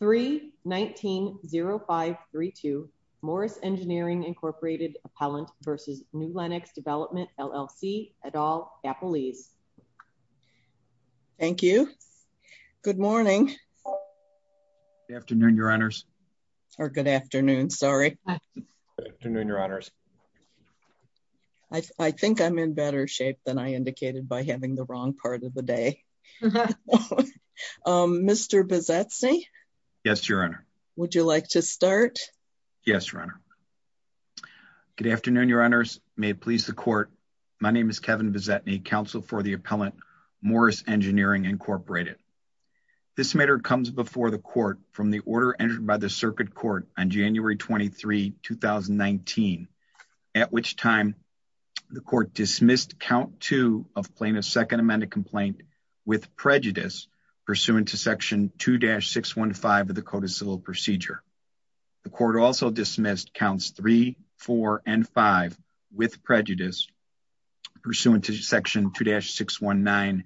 3-19-0532 Morris Engineering, Inc. Appellant v. New Lenox Development, LLC, et al. Appelese. Thank you. Good morning. Good afternoon, Your Honors. Or good afternoon, sorry. Good afternoon, Your Honors. I think I'm in better shape than I indicated by having the wrong part of the day. Okay. Mr. Bozetsy? Yes, Your Honor. Would you like to start? Yes, Your Honor. Good afternoon, Your Honors. May it please the Court. My name is Kevin Bozetsy, Counsel for the Appellant, Morris Engineering, Incorporated. This matter comes before the Court from the order entered by the Circuit Court on January 23, 2019, at which time the Court dismissed Count 2 of Plaintiff's Second Amendment Complaint with prejudice pursuant to Section 2-615 of the Code of Civil Procedure. The Court also dismissed Counts 3, 4, and 5 with prejudice pursuant to Section 2-619A5,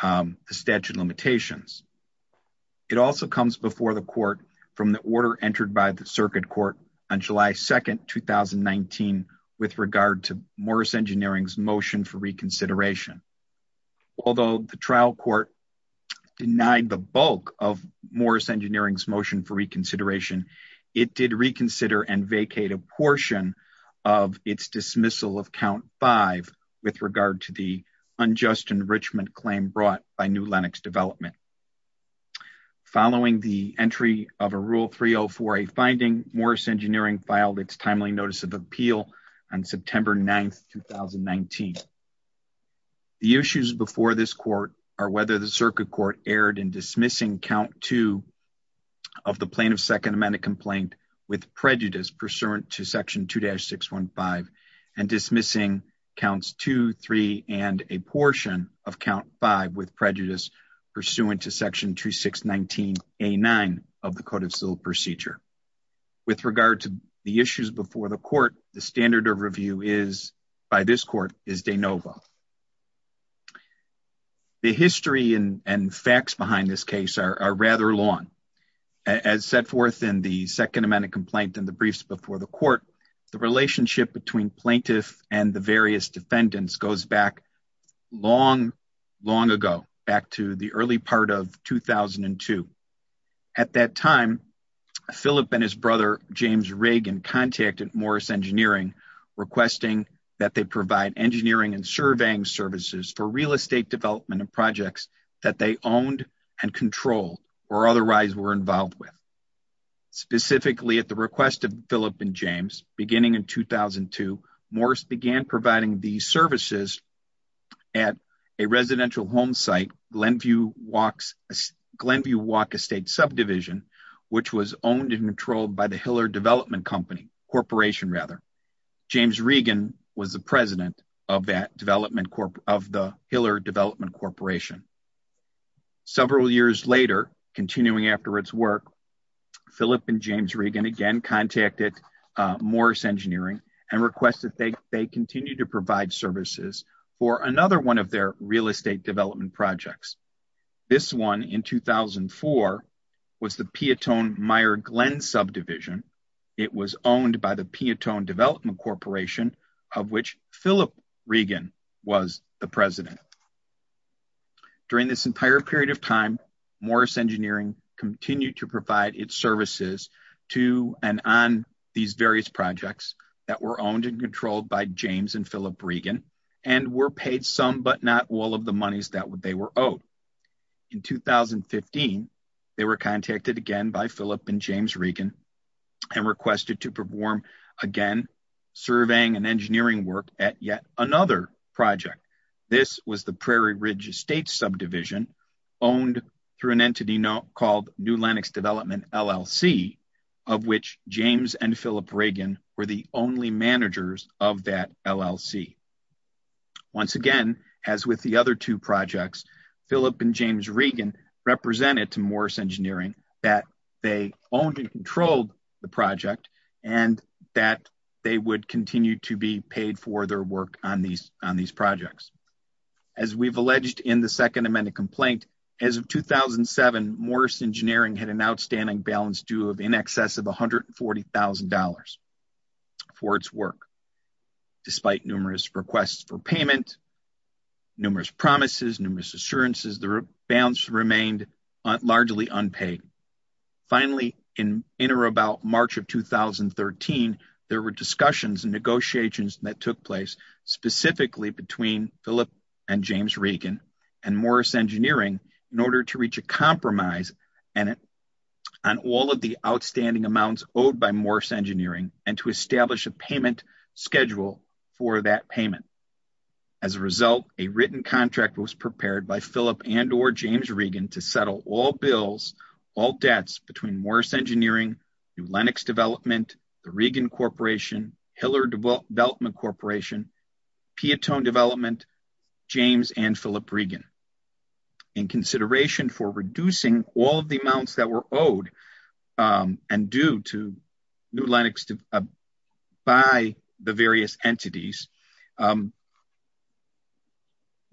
the statute of limitations. It also comes before the Court from the order entered by the Circuit Court on July 2, 2019, with regard to Morris Engineering's motion for reconsideration. Although the trial court denied the bulk of Morris Engineering's motion for reconsideration, it did reconsider and vacate a portion of its dismissal of Count 5 with regard to the unjust enrichment claim brought by New Lenox Development. Following the entry of a Rule 304A finding, Morris Engineering filed its timely notice of appeal on September 9, 2019. The issues before this Court are whether the Circuit Court erred in dismissing Count 2 of the Plaintiff's Second Amendment Complaint with prejudice pursuant to Section 2-615 and dismissing Counts 2, 3, and a portion of Count 5 with prejudice pursuant to Section 2-619A9 of the Code of Civil Procedure. With regard to the issues before the Court, the standard of review by this Court is de novo. The history and facts behind this case are rather long. As set forth in the Second Amendment Complaint and the briefs before the Court, the relationship between Plaintiff and the various defendants goes back long, long ago, back to the early part of 2002. At that time, Philip and his brother, James Reagan, contacted Morris Engineering requesting that they provide engineering and surveying services for real estate development and projects that they owned and controlled or otherwise were involved with. Specifically, at the request of Philip and James, beginning in 2002, Morris began providing these services at a residential home site, Glenview Walk Estate Subdivision, which was owned and controlled by the Hiller Development Corporation. James Reagan was the President. Philip and James Reagan again contacted Morris Engineering and requested that they continue to provide services for another one of their real estate development projects. This one, in 2004, was the Piatone-Meyer-Glenn Subdivision. It was owned by the Piatone Development Corporation, of which Philip Reagan was the President. During this entire period of its services to and on these various projects that were owned and controlled by James and Philip Reagan and were paid some, but not all, of the monies that they were owed. In 2015, they were contacted again by Philip and James Reagan and requested to perform again surveying and engineering work at yet another project. This was the Prairie Ridge Estate Subdivision, owned through an entity called New Lenox Development LLC, of which James and Philip Reagan were the only managers of that LLC. Once again, as with the other two projects, Philip and James Reagan represented to Morris Engineering that they owned and controlled the project and that they would continue to be paid for their work on these projects. As we've alleged in the second amended complaint, as of 2007, Morris Engineering had an outstanding balance due of in excess of $140,000 for its work. Despite numerous requests for payment, numerous promises, numerous assurances, the balance remained largely unpaid. Finally, in or about March of 2013, there were discussions and negotiations that took place specifically between Philip and James Reagan and Morris Engineering in order to reach a compromise on all of the outstanding amounts owed by Morris Engineering and to establish a payment schedule for that payment. As a result, a written contract was prepared by Philip and or James Reagan to settle all bills, all debts between Morris Engineering, New Lenox Development, the Reagan Corporation, Hiller Development Corporation, Piatone Development, James and Philip Reagan. In consideration for reducing all of the amounts that were owed and due to New Lenox by the various entities,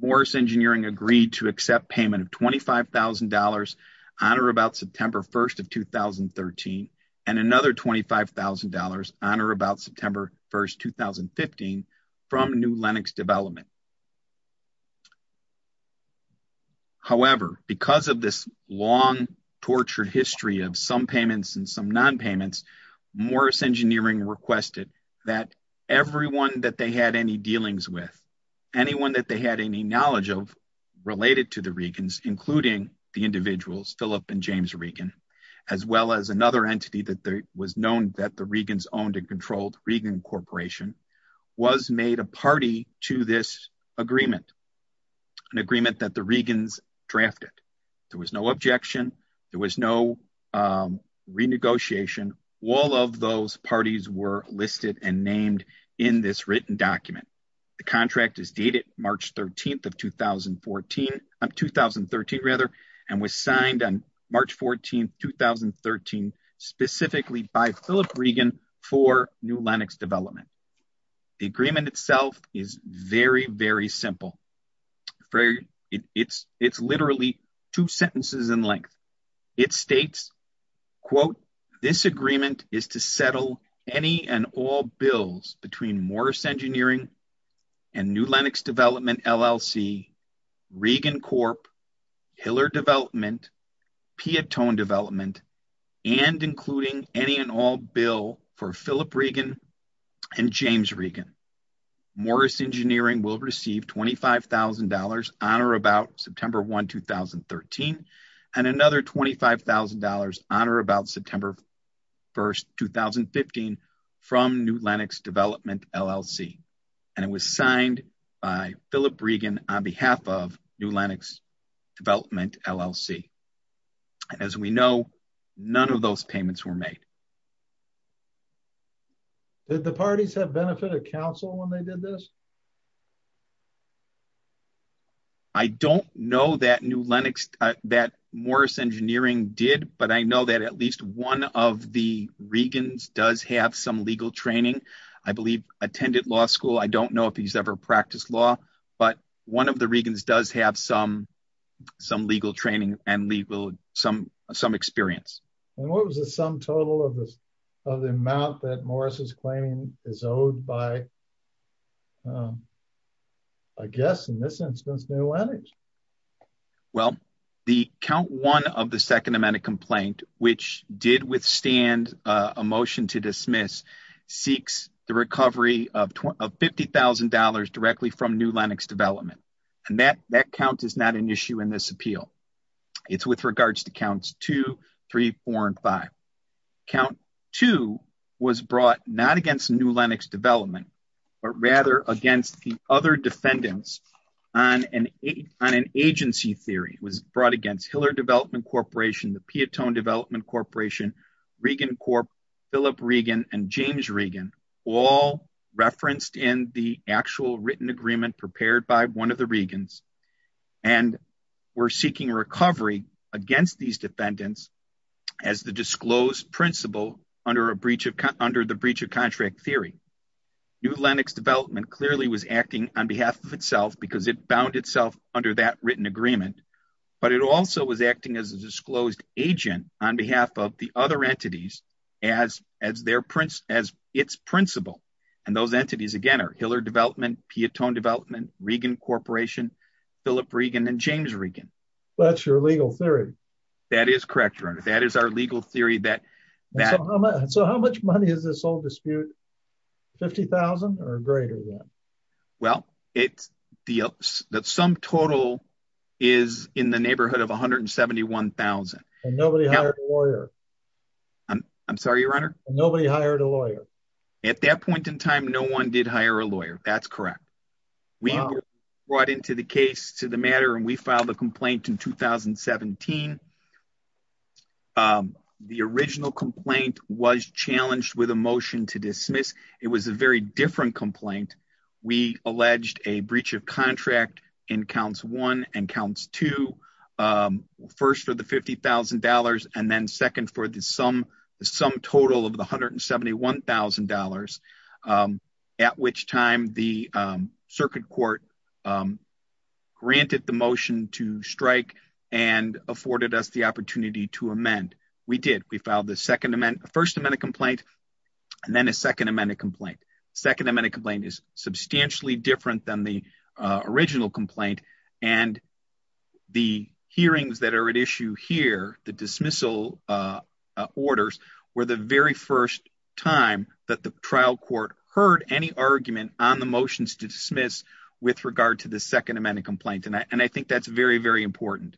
Morris Engineering agreed to accept payment of $25,000 on or about September 1st of 2013 and another $25,000 on or about September 1st, 2015 from New Lenox Development. However, because of this long tortured history of some payments and some non-payments, Morris Engineering requested that everyone that they had any dealings with, anyone that they had any knowledge of related to the Reagans, including the individuals Philip and James Reagan, as well as another entity that was known that the Reagans owned and controlled, Reagan Corporation, was made a party to this agreement, an agreement that the Reagans drafted. There was no objection. There was no renegotiation. All of those parties were listed and named in this written document. The contract is dated March 13th of 2014, of 2013 rather, and was signed on March 14th, 2013, specifically by Philip Reagan for New Lenox Development. The agreement itself is very, very simple. It's literally two sentences in length. It states, quote, this agreement is to settle any and all bills between Morris Engineering and New Lenox Development LLC, Reagan Corp., Hiller Development, Piatone Development, and including any and all bill for Philip Reagan and James Reagan. Morris Engineering will receive $25,000 on or about September 1, 2013, and another $25,000 on or about September 1, 2015, from New Lenox Development, LLC. It was signed by Philip Reagan on behalf of New Lenox Development, LLC. As we know, none of those payments were made. Did the parties have benefit of counsel when they did this? I don't know that Morris Engineering did, but I know that at least one of the Reagans does have some legal training. I believe attended law school. I don't know if he's ever practiced law, but one of the Reagans does have some legal training and some experience. What was the sum total of the amount that Morris is claiming is owed by, I guess, in this instance, New Lenox? Well, the count one of the second amendment complaint, which did withstand a motion to dismiss, seeks the recovery of $50,000 directly from New Lenox Development. That count is not an issue in this appeal. It's with regards to counts two, three, four, and five. Count two was brought not against New Lenox Development, but rather against the other defendants on an agency theory. It was brought against Hiller Development Corporation, the Piatone Development Corporation, Regan Corp., Philip Reagan, and James Reagan, all referenced in the actual written agreement prepared by one of the Reagans, and were seeking recovery against these defendants as the disclosed principal under the breach of contract theory. New Lenox Development clearly was acting on behalf of itself because it bound itself under that written agreement, but it also was acting as a disclosed agent on behalf of the other entities as its principal, and those entities, again, Hiller Development, Piatone Development, Regan Corporation, Philip Reagan, and James Reagan. That's your legal theory. That is correct, Your Honor. That is our legal theory. So how much money is this whole dispute? $50,000 or greater? Well, the sum total is in the neighborhood of $171,000. Nobody hired a lawyer? I'm sorry, Your Honor? Nobody hired a lawyer? At that point in time, no one did hire a lawyer. That's correct. We were brought into the case to the matter, and we filed a complaint in 2017. The original complaint was challenged with a motion to dismiss. It was a very different complaint. We alleged a breach of contract in counts one and two, first for the $50,000 and then second for the sum total of the $171,000, at which time the circuit court granted the motion to strike and afforded us the opportunity to amend. We did. We filed the first amended complaint and then a second amended complaint. The second amended complaint is substantially different than the original complaint. The hearings that are at issue here, the dismissal orders, were the very first time that the trial court heard any argument on the motions to dismiss with regard to the second amended complaint. I think that's very, very important.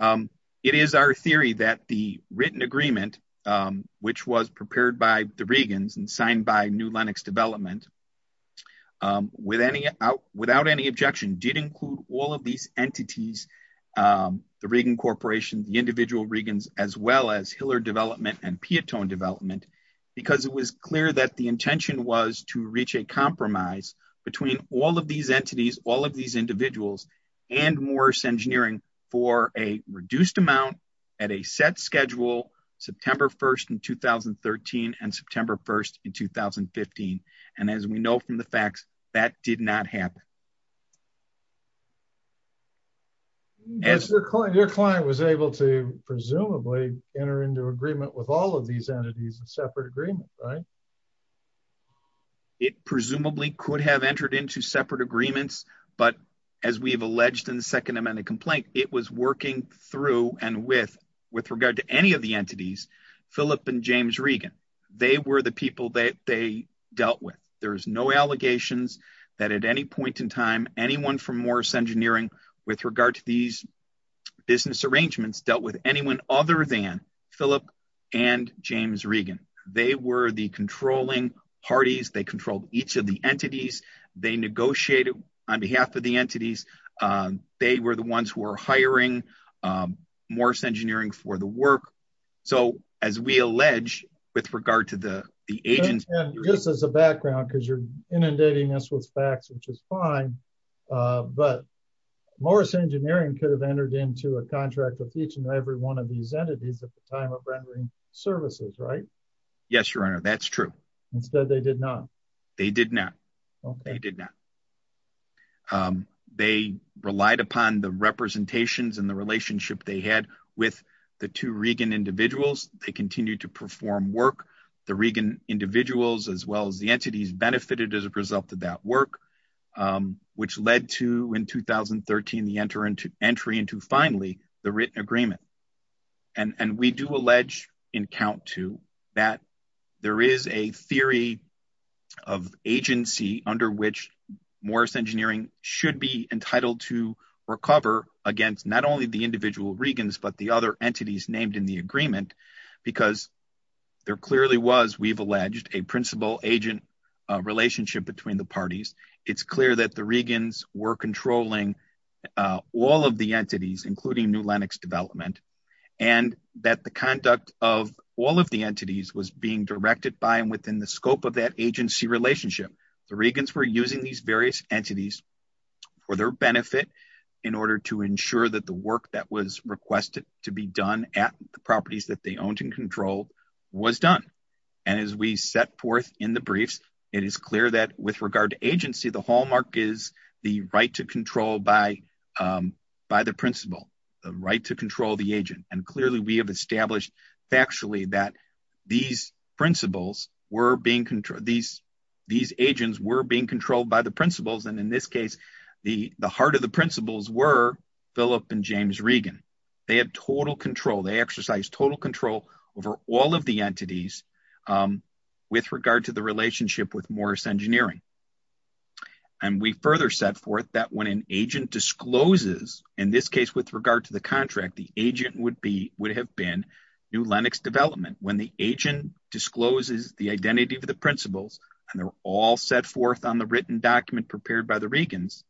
It is our theory that the written agreement, which was prepared by the Reagans and New Lenox Development, without any objection, did include all of these entities, the Reagan Corporation, the individual Reagans, as well as Hiller Development and Piatone Development, because it was clear that the intention was to reach a compromise between all of these entities, all of these individuals, and Morris Engineering for a reduced amount at a set schedule, September 1st in 2013 and September 1st in 2015. And as we know from the facts, that did not happen. Your client was able to presumably enter into agreement with all of these entities in separate agreement, right? It presumably could have entered into separate agreements, but as we have alleged in the second amended complaint, it was working through and with regard to any of the entities, Phillip and James Reagan. They were the people that they dealt with. There's no allegations that at any point in time, anyone from Morris Engineering, with regard to these business arrangements, dealt with anyone other than Phillip and James Reagan. They were the controlling parties. They controlled each of the entities. They negotiated on behalf of the entities. They were the ones who were hiring Morris Engineering for the work. So, as we allege, with regard to the agent... And just as a background, because you're inundating us with facts, which is fine, but Morris Engineering could have entered into a contract with each and every one of these entities at the time of rendering services, right? Yes, Your Honor. That's true. Instead, they did not. They did not. They did not. They relied upon the representations and the relationship they had with the two Reagan individuals. They continued to perform work. The Reagan individuals, as well as the entities, benefited as a result of that work, which led to, in 2013, the entry into, finally, the written agreement. And we do allege, in count two, that there is a theory of agency under which Morris Engineering should be entitled to recover against not only the individual Reagans, but the other entities named in the agreement, because there clearly was, we've alleged, a principal-agent relationship between the parties. It's clear that the Reagans were controlling all of the entities, including New Lenox Development, and that the conduct of all of the entities was being directed by and within the scope of that agency relationship. The Reagans were using these various entities for their benefit in order to ensure that the work that was requested to be done at the properties that they owned and controlled was done. And as we set forth in the briefs, it is clear that, with regard to agency, the hallmark is the right to control by the principal, the right to control the agent. And clearly, we have established factually that these agents were being controlled by the principals. And in this case, the heart of the principals were Philip and James Reagan. They have total control. They exercise total control over all of the entities with regard to the relationship with Morris Engineering. And we further set forth that when an agent discloses, in this case, with regard to the contract, the agent would have been New Lenox Development. When the agent discloses the identity of the principals, and they're all set forth on the written document prepared by the Reagans,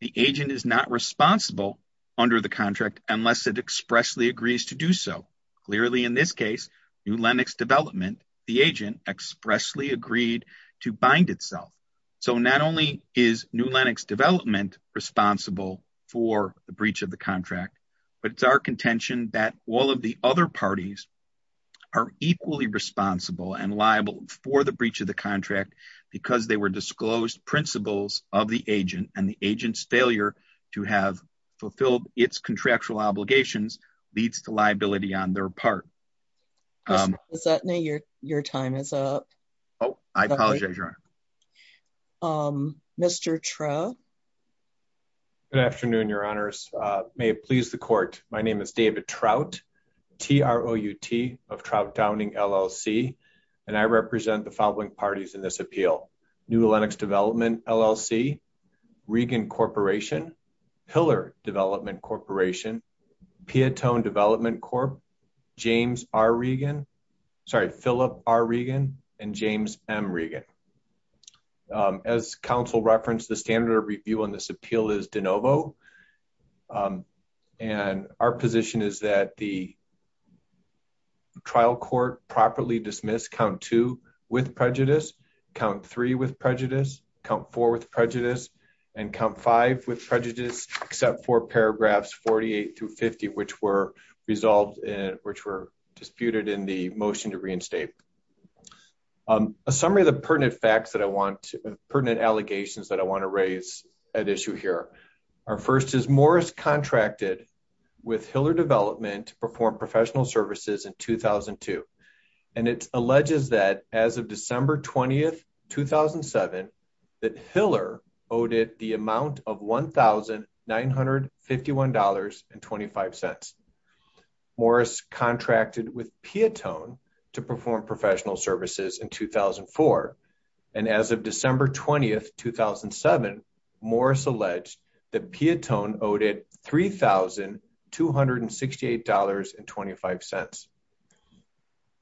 the agent is not responsible under the contract unless it expressly agrees to do so. Clearly, in this case, New Lenox Development, the agent expressly agreed to bind itself. So not only is New Lenox Development responsible for the breach of the contract, but it's our contention that all of the other parties are equally responsible and liable for the breach of the contract because they were disclosed principals of the agent. And the agent's failure to have fulfilled its contractual obligations leads to liability on their part. Does that mean your time is up? Oh, I apologize, Your Honor. Mr. Trout. Good afternoon, Your Honors. May it please the court. My name is David Trout, T-R-O-U-T of Trout Downing, LLC. And I represent the following parties in this appeal. New Lenox Development, LLC, Regan Corporation, Pillar Development Corporation, Piatone Development Corp., James R. Regan, sorry, Philip R. Regan, and James M. Regan. As counsel referenced, the standard of review on this appeal is de novo. And our position is that the trial court properly dismiss count two with prejudice, count three with prejudice, count four with prejudice, and count five with prejudice, except for paragraphs 48 through 50, which were resolved in, which were disputed in the motion to reinstate. A summary of the pertinent facts that I want, pertinent allegations that I want to raise at issue here. Our first is Morris contracted with Pillar Development to perform professional services in 2002. And it alleges that as of December 20th, 2007, that Pillar owed it the amount of $1,951.25. Morris contracted with Piatone to perform professional services in $1,951.25.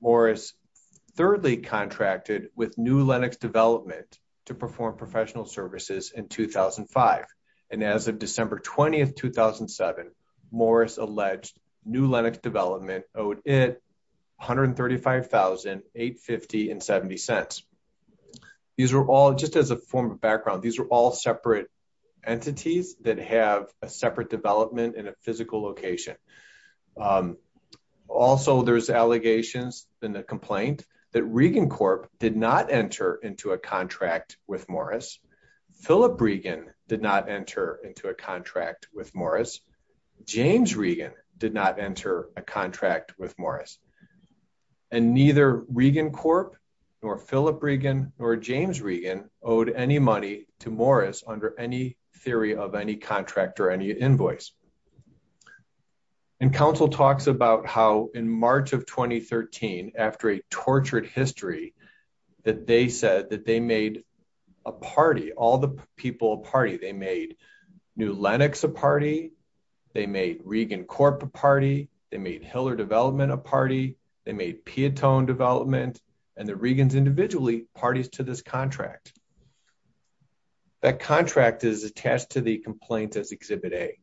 Morris thirdly contracted with New Lenox Development to perform professional services in 2005. And as of December 20th, 2007, Morris alleged New Lenox Development owed it $135,850.70. These are all, just as a form of background, these are all separate entities that have a separate development in a physical location. Also, there's allegations in the complaint that Regan Corp did not enter into a contract with Morris. Philip Regan did not enter into a contract with Morris. James Regan did not enter a contract with Morris. And neither Regan Corp, nor Philip Regan, nor James Regan owed any money to Morris under any theory of any contract or any invoice. And counsel talks about how in March of 2013, after a tortured history, that they said that they made a party, all the people, a party. They made New Lenox a party. They made Regan Corp a party. They made Pillar Development a party. They made Piatone Development. And the Regans individually parties to this contract. That contract is attached to the complaint as Exhibit A.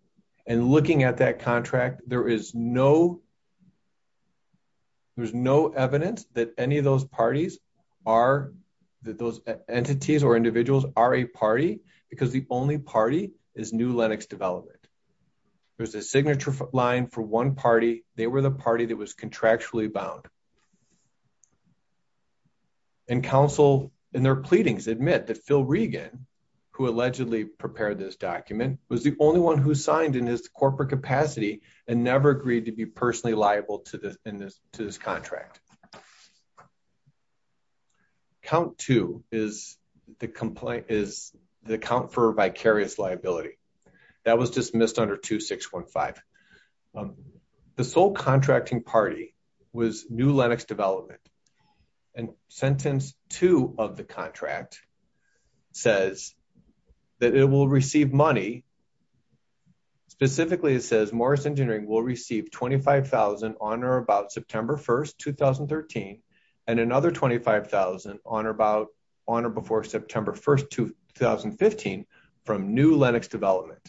And looking at that contract, there is no, there's no evidence that any of those parties are, that those entities or individuals are a party because the only party is New Lenox Development. There's a signature line for one party. They were the party that was contractually bound. And counsel in their pleadings admit that Phil Regan, who allegedly prepared this document, was the only one who signed in his corporate capacity and never agreed to be personally liable to this, in this, to this contract. Count two is the complaint, is the account for vicarious liability. That was dismissed under 2615. The sole contracting party was New Lenox Development. And sentence two of the contract says that it will receive money. Specifically, it says Morris Engineering will receive $25,000 on or about September 1st, 2013, and another $25,000 on or about, on or before September 1st, 2015 from New Lenox Development.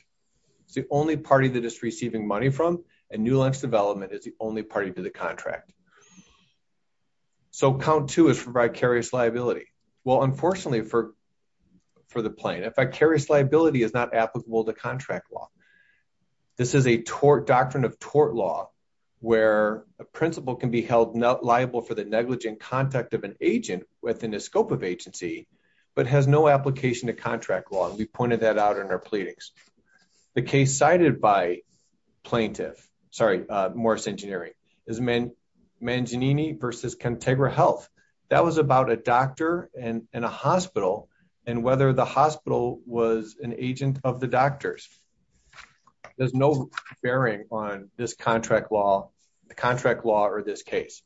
It's the only party that is receiving money from, and New Lenox Development is the only party to the contract. So count two is for vicarious liability. Well, unfortunately for, for the plain, a vicarious liability is not applicable to contract law. This is a tort, doctrine of tort law, where a principal can be held liable for the negligent contact of an agent within the scope of agency, but has no application to contract law. And we pointed that out in our pleadings. The case cited by plaintiff, sorry, Morris Engineering is Manginini versus Contegra Health. That was about a doctor and a hospital and whether the hospital was an agent of the doctors. There's no bearing on this contract law, the contract law, or this case.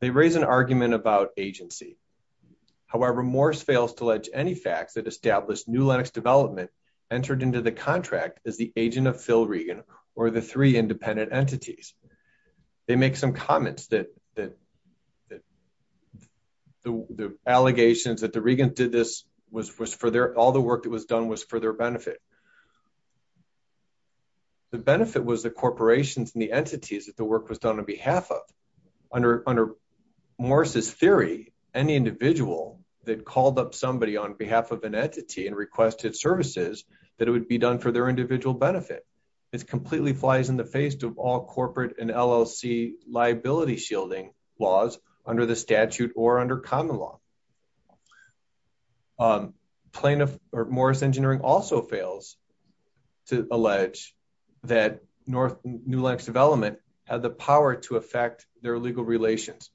They raise an argument about agency. However, Morris fails to ledge any facts that established New Lenox Development entered into the contract as the agent of Phil Regan or the three independent entities. They make some comments that, that, that the, the allegations that the Regan did this was, was for their, all the work that was done was for their benefit. The benefit was the under, under Morris's theory, any individual that called up somebody on behalf of an entity and requested services that it would be done for their individual benefit. It's completely flies in the face of all corporate and LLC liability shielding laws under the statute or under common law. Plaintiff or Morris Engineering also fails to allege that North New Lenox Development had the power to affect their legal relations.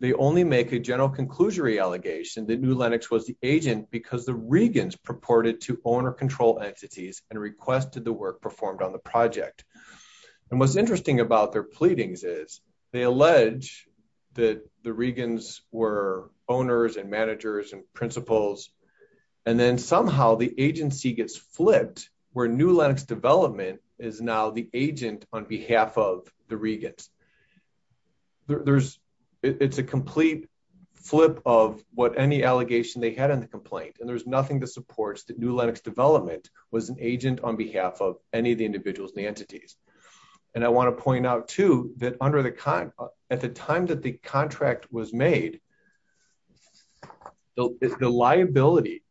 They only make a general conclusory allegation that New Lenox was the agent because the Regan's purported to owner control entities and requested the work performed on the project. And what's interesting about their pleadings is they allege that the Regan's were owners and managers and principals. And then somehow the agency gets flipped where New Lenox Development is now the agent on behalf of the Regan's. There's, it's a complete flip of what any allegation they had in the complaint. And there's nothing that supports that New Lenox Development was an agent on behalf of any of the individuals and the entities. And I want to point out too, that under the con at the time that the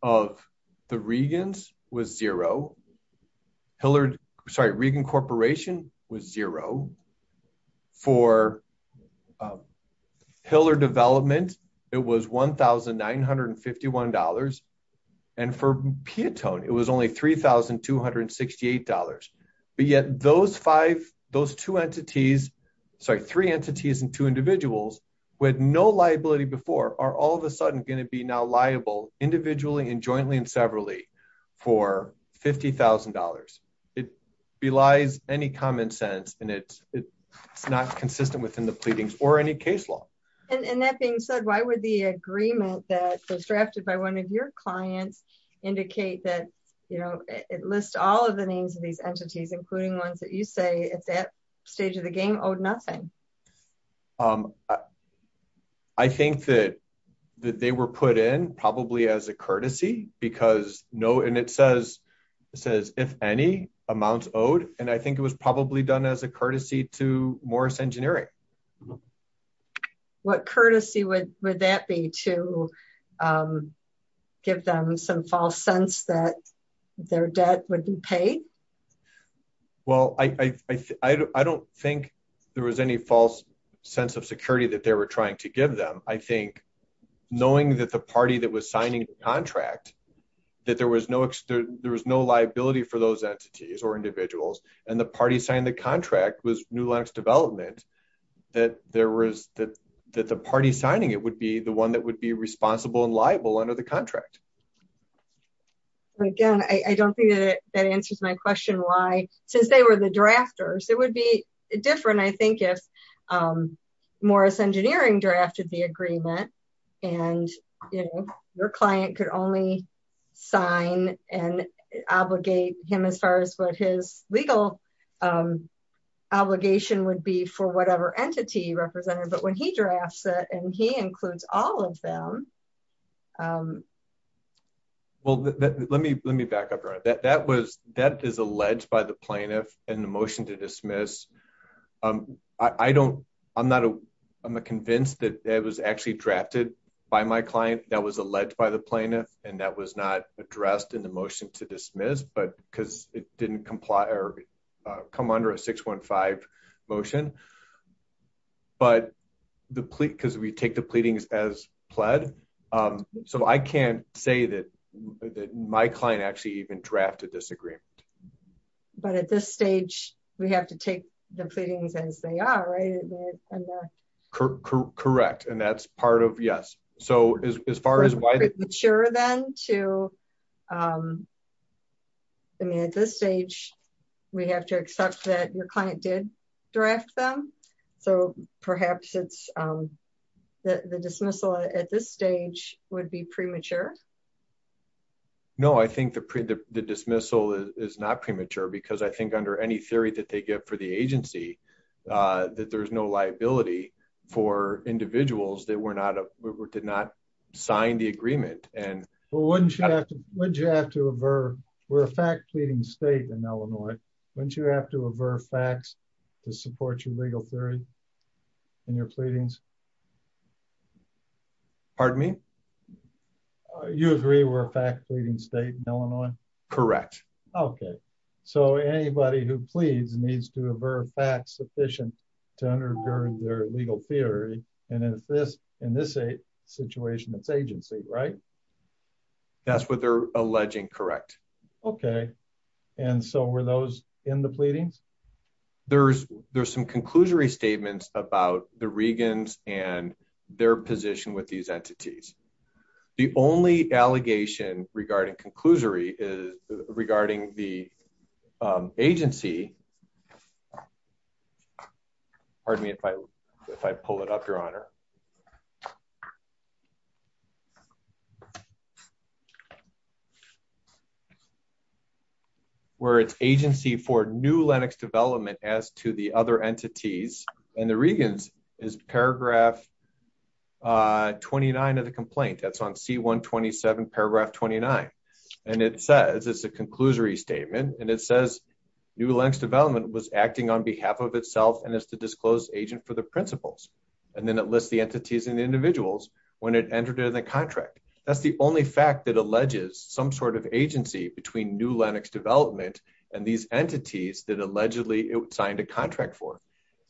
of the Regan's was zero, Hillard, sorry, Regan Corporation was zero. For Hillard Development, it was $1,951. And for Piatone, it was only $3,268. But yet those five, those two entities, sorry, three entities and two individuals with no liability before are all of a sudden going to be now liable individually and jointly and severally for $50,000. It belies any common sense and it's not consistent within the pleadings or any case law. And that being said, why would the agreement that was drafted by one of your clients indicate that, you know, it lists all of the names of these entities, including ones that you say at that stage of the game owed nothing? Um, I think that they were put in probably as a courtesy because no, and it says, it says if any amounts owed, and I think it was probably done as a courtesy to Morris Engineering. What courtesy would that be to give them some false sense that their debt would be paid? Well, I don't think there was any false sense of security that they were trying to give them. I think knowing that the party that was signing the contract, that there was no, there was no liability for those entities or individuals, and the party signed the contract was New Lenox Development, that there was that, that the party signing it would be the one that would be responsible and liable under the contract. Again, I don't think that answers my question. Since they were the drafters, it would be different. I think if Morris Engineering drafted the agreement, and, you know, your client could only sign and obligate him as far as what his legal obligation would be for whatever entity represented, but when he drafts it, and he includes all of them. Well, let me, let me back up. That was, that is alleged by the plaintiff and the motion to dismiss. I don't, I'm not, I'm not convinced that it was actually drafted by my client, that was alleged by the plaintiff, and that was not addressed in the motion to dismiss, but because it didn't comply or come under a 615 motion. But the plea, because we take the pleadings as pled, so I can't say that my client actually even drafted this agreement. But at this stage, we have to take the pleadings as they are, right? Correct. And that's part of, yes. So as far as why... Sure then to, I mean, at this stage, we have to accept that your client did draft them. So perhaps it's, the dismissal at this stage would be premature. No, I think the dismissal is not premature because I think under any theory that they give for the agency, that there's no liability for individuals that were not, did not sign the agreement and... Well, wouldn't you have to, wouldn't you have to avert, we're a fact pleading state in Illinois. Wouldn't you have to avert facts to support your legal theory and your pleadings? Pardon me? You agree we're a fact pleading state in Illinois? Correct. Okay. So anybody who pleads needs to avert facts sufficient to undergird their legal theory. And if this, in this situation, it's agency, right? That's what they're alleging. Correct. Okay. And so were those in the pleadings? There's, there's some conclusory statements about the Regans and their position with these entities. The only allegation regarding conclusory is regarding the agency. Pardon me if I, if I pull it up your honor. Where it's agency for new Lennox development as to the other entities and the Regans is paragraph 29 of the complaint that's on C 127 paragraph 29. And it says it's a conclusory statement. And it says new Lennox development was acting on behalf of itself and as the disclosed agent for the principles. And then it lists the entities and the individuals when it entered into the contract. That's the only fact that alleges some sort of agency between new Lennox development and these entities that allegedly signed a contract for.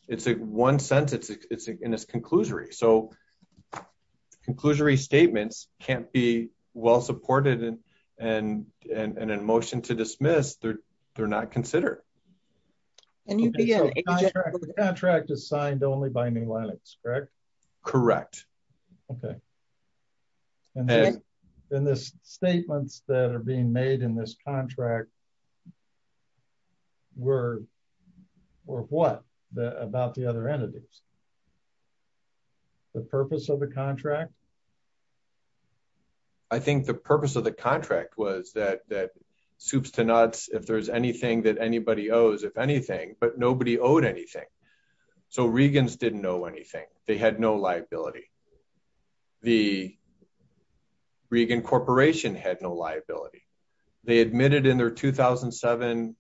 It's a one sentence. It's in this conclusory. So conclusory statements can't be well supported and, and, and, and in motion to dismiss they're, they're not considered. The contract is signed only by new Lennox, correct? Correct. Okay. And then in this statements that are being made in this contract were, were what the, about the other entities, the purpose of the contract. I think the purpose of the contract was that, that soups to nuts. If there's anything that anybody owes, if anything, but nobody owed anything. So Regan's didn't know anything. They had no liability. The Regan corporation had no liability. They admitted in their 2007,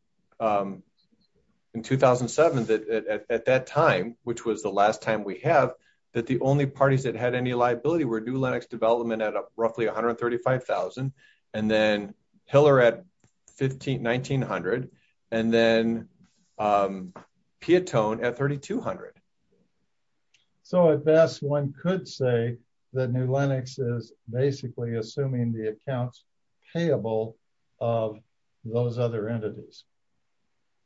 in 2007, that at that time, which was the last time we have that the only parties that had any liability were new Lennox development at roughly 135,000 and then Hiller at 15, 1900. And then Piatone at 3,200. So at best one could say that new Lennox is basically assuming the accounts payable of those other entities.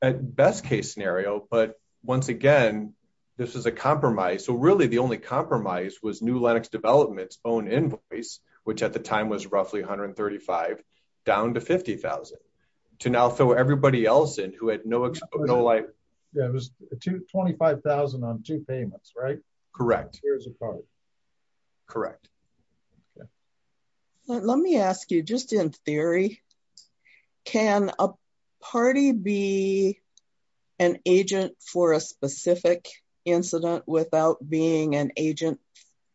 At best case scenario. But once again, this is a compromise. So really the only compromise was new Lennox development's own invoice, which at the time was roughly 135 down to 50,000 to now throw everybody else in who had no, no life. Yeah. It was two 25,000 on two payments, right? Correct. Correct. Okay. Let me ask you just in theory, can a party be an agent for a specific incident without being an agent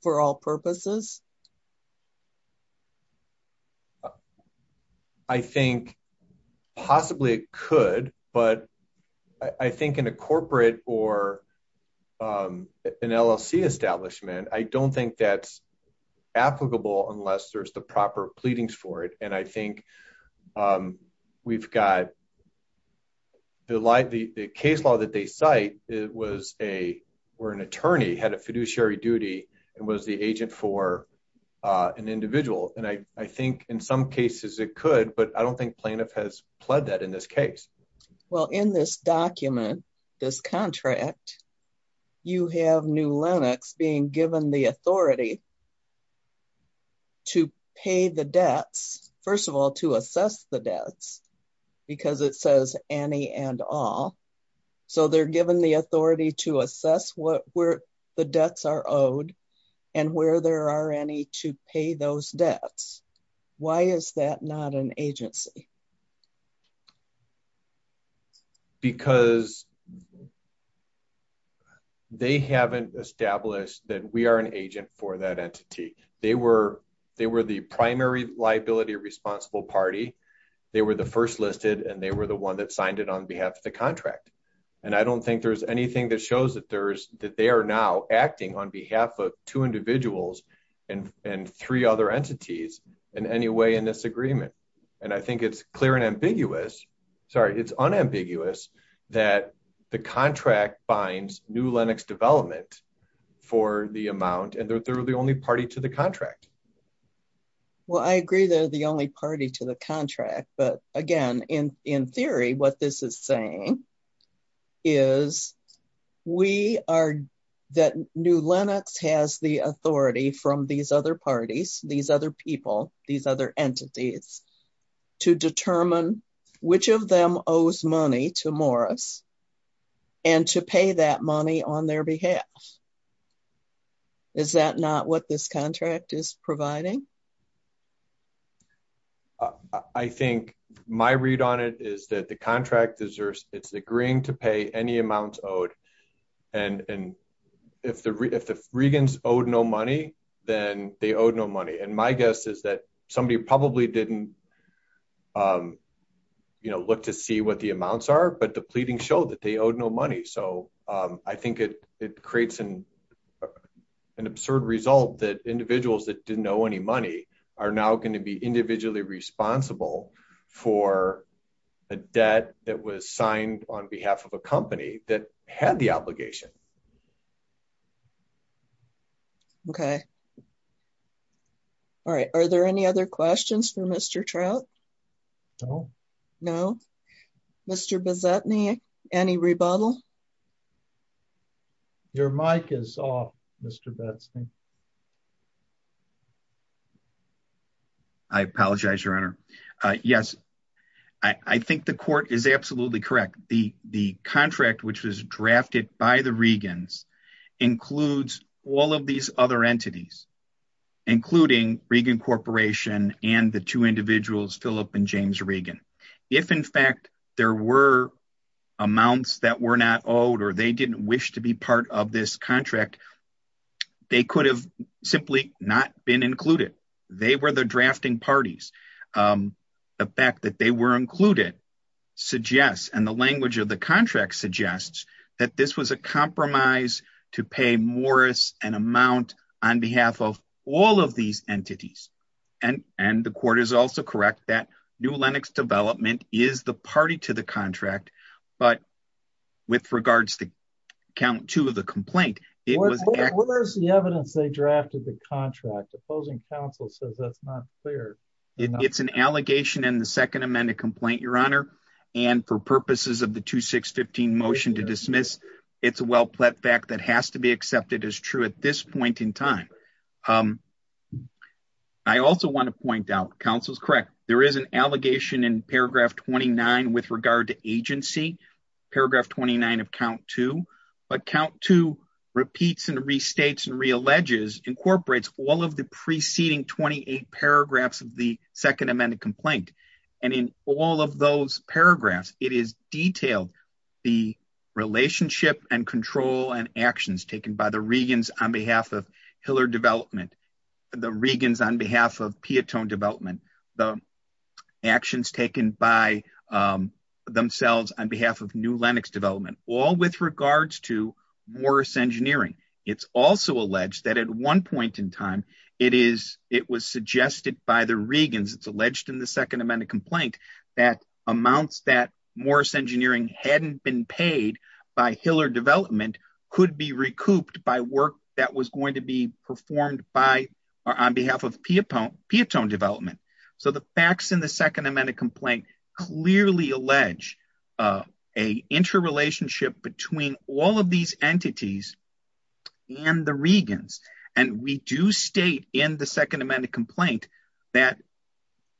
for all purposes? I think possibly it could, but I think in a corporate or an LLC establishment, I don't think that's applicable unless there's the proper pleadings for it. And I think we've got the light, the, the case law that they cite, it was a, or an attorney had a fiduciary duty and was agent for an individual. And I, I think in some cases it could, but I don't think plaintiff has pled that in this case. Well, in this document, this contract, you have new Lennox being given the authority to pay the debts. First of all, to assess the debts because it says any and all. So they're given the authority to assess what, where the debts are owed and where there are any to pay those debts. Why is that not an agency? Because they haven't established that we are an agent for that entity. They were, they were the primary liability responsible party. They were the first listed and they were the one that signed it on and I don't think there's anything that shows that there's that they are now acting on behalf of two individuals and, and three other entities in any way in this agreement. And I think it's clear and ambiguous, sorry, it's unambiguous that the contract binds new Lennox development for the amount. And they're, they're the only party to the contract. Well, I agree they're the only party to the contract, but again, in, in theory, what this is saying is we are that new Lennox has the authority from these other parties, these other people, these other entities to determine which of them owes money to Morris and to pay that money on their behalf. Is that not what this contract is providing? I think my read on it is that the contract deserves, it's agreeing to pay any amounts owed. And, and if the, if the Regans owed no money, then they owed no money. And my guess is that somebody probably didn't, you know, look to see what the amounts are, but the pleading showed that they owed no money. So I think it, it creates an, an absurd result that individuals that didn't know any money are now going to be individually responsible for a debt that was signed on behalf of a company that had the obligation. Okay. All right. Are there any other questions for Mr. Trout? No, no. Mr. Bozetny, any rebuttal? Your mic is off, Mr. Bozetny. I apologize, your honor. Uh, yes, I, I think the court is absolutely correct. The, the contract, which was drafted by the Regans includes all of these other entities, including Regan corporation and the two individuals, Phillip and James Regan. If in fact there were amounts that were not owed or they didn't wish to be part of this contract, they could have simply not been included. They were the drafting parties. Um, the fact that they were included suggests, and the language of the contract suggests that this was a compromise to pay Morris an amount on behalf of all of these entities. And, and the court is also correct that new Lennox development is the party to the contract, but with regards to count two of the complaint, it was the evidence they drafted the contract opposing counsel says that's not fair. It's an allegation in the second amendment complaint, your honor. And for purposes of the two, six 15 motion to dismiss, it's a well-placed fact that has to be accepted as true at this point in time. I also want to point out counsel's correct. There is an allegation in paragraph 29 with regard to agency paragraph 29 of count two, but count two repeats and restates and realleges incorporates all of the preceding 28 paragraphs of the second amended complaint. And in all of those paragraphs, it is detailed the relationship and control and actions taken by the Regan's on behalf of development, the Regan's on behalf of development, the actions taken by themselves on behalf of new Lennox development, all with regards to Morris engineering. It's also alleged that at one point in time, it is, it was suggested by the Regan's it's alleged in the second amendment complaint that amounts that Morris engineering hadn't been paid by Hiller development could be recouped by work that was going to be performed by, or on behalf of Piappone development. So the facts in the second amendment complaint clearly allege a interrelationship between all of these entities and the Regan's. And we do state in the second amendment complaint that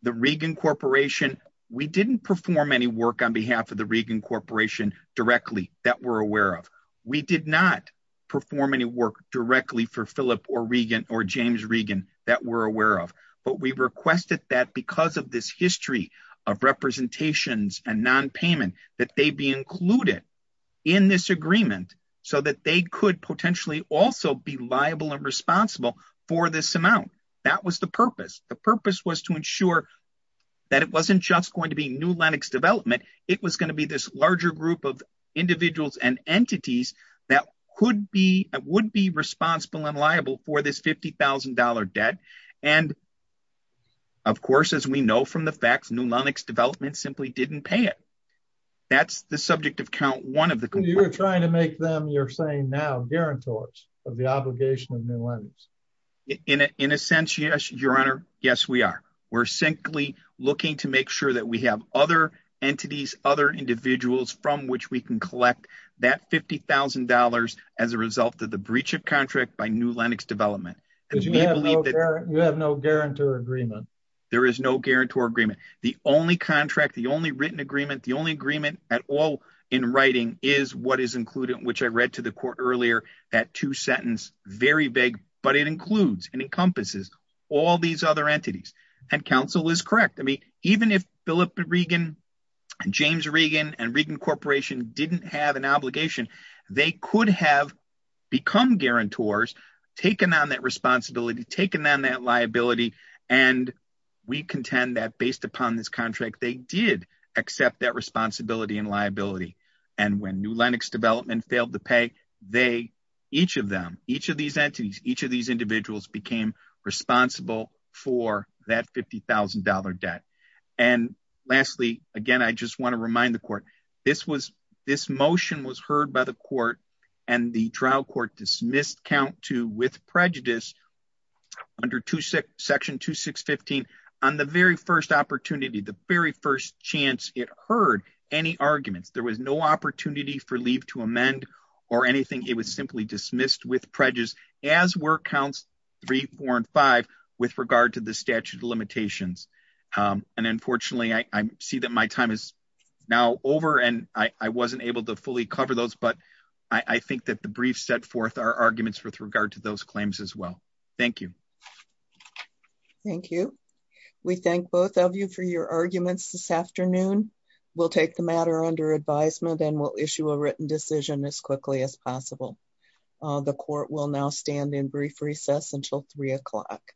the Regan corporation, we didn't perform any work on behalf of the Regan corporation directly that we're aware of. We did not perform any work directly for Philip or Regan or James Regan that we're aware of, but we requested that because of this history of representations and non-payment that they be included in this agreement so that they could potentially also be liable and responsible for this amount. That was the purpose. The purpose was to ensure that it wasn't just going to be new Lennox development. It was going to be this larger group of individuals and entities that would be responsible and liable for this $50,000 debt. And of course, as we know from the facts, new Lennox development simply didn't pay it. That's the subject of count one of the complaints. You're trying to make them, you're saying now, guarantors of the obligation of new Lennox. In a sense, yes, your honor. Yes, we are. We're simply looking to make sure that we have other entities, other individuals from which we can collect that $50,000 as a result of the breach of contract by new Lennox development. You have no guarantor agreement. There is no guarantor agreement. The only contract, the only written agreement, the only agreement at all in writing is what is included, which I read to the And counsel is correct. I mean, even if Philip Regan and James Regan and Regan Corporation didn't have an obligation, they could have become guarantors, taken on that responsibility, taken on that liability. And we contend that based upon this contract, they did accept that responsibility and liability. And when new Lennox development failed to pay, they, each of them, each of these entities, each of these individuals became responsible for that $50,000 debt. And lastly, again, I just want to remind the court, this was, this motion was heard by the court. And the trial court dismissed count two with prejudice under section 2615. On the very first opportunity, the very first chance it heard any arguments, there was no opportunity for leave to as were counts three, four, and five with regard to the statute of limitations. And unfortunately, I see that my time is now over and I wasn't able to fully cover those, but I think that the brief set forth our arguments with regard to those claims as well. Thank you. Thank you. We thank both of you for your arguments this afternoon. We'll take the matter under advisement and we'll now stand in brief recess until three o'clock.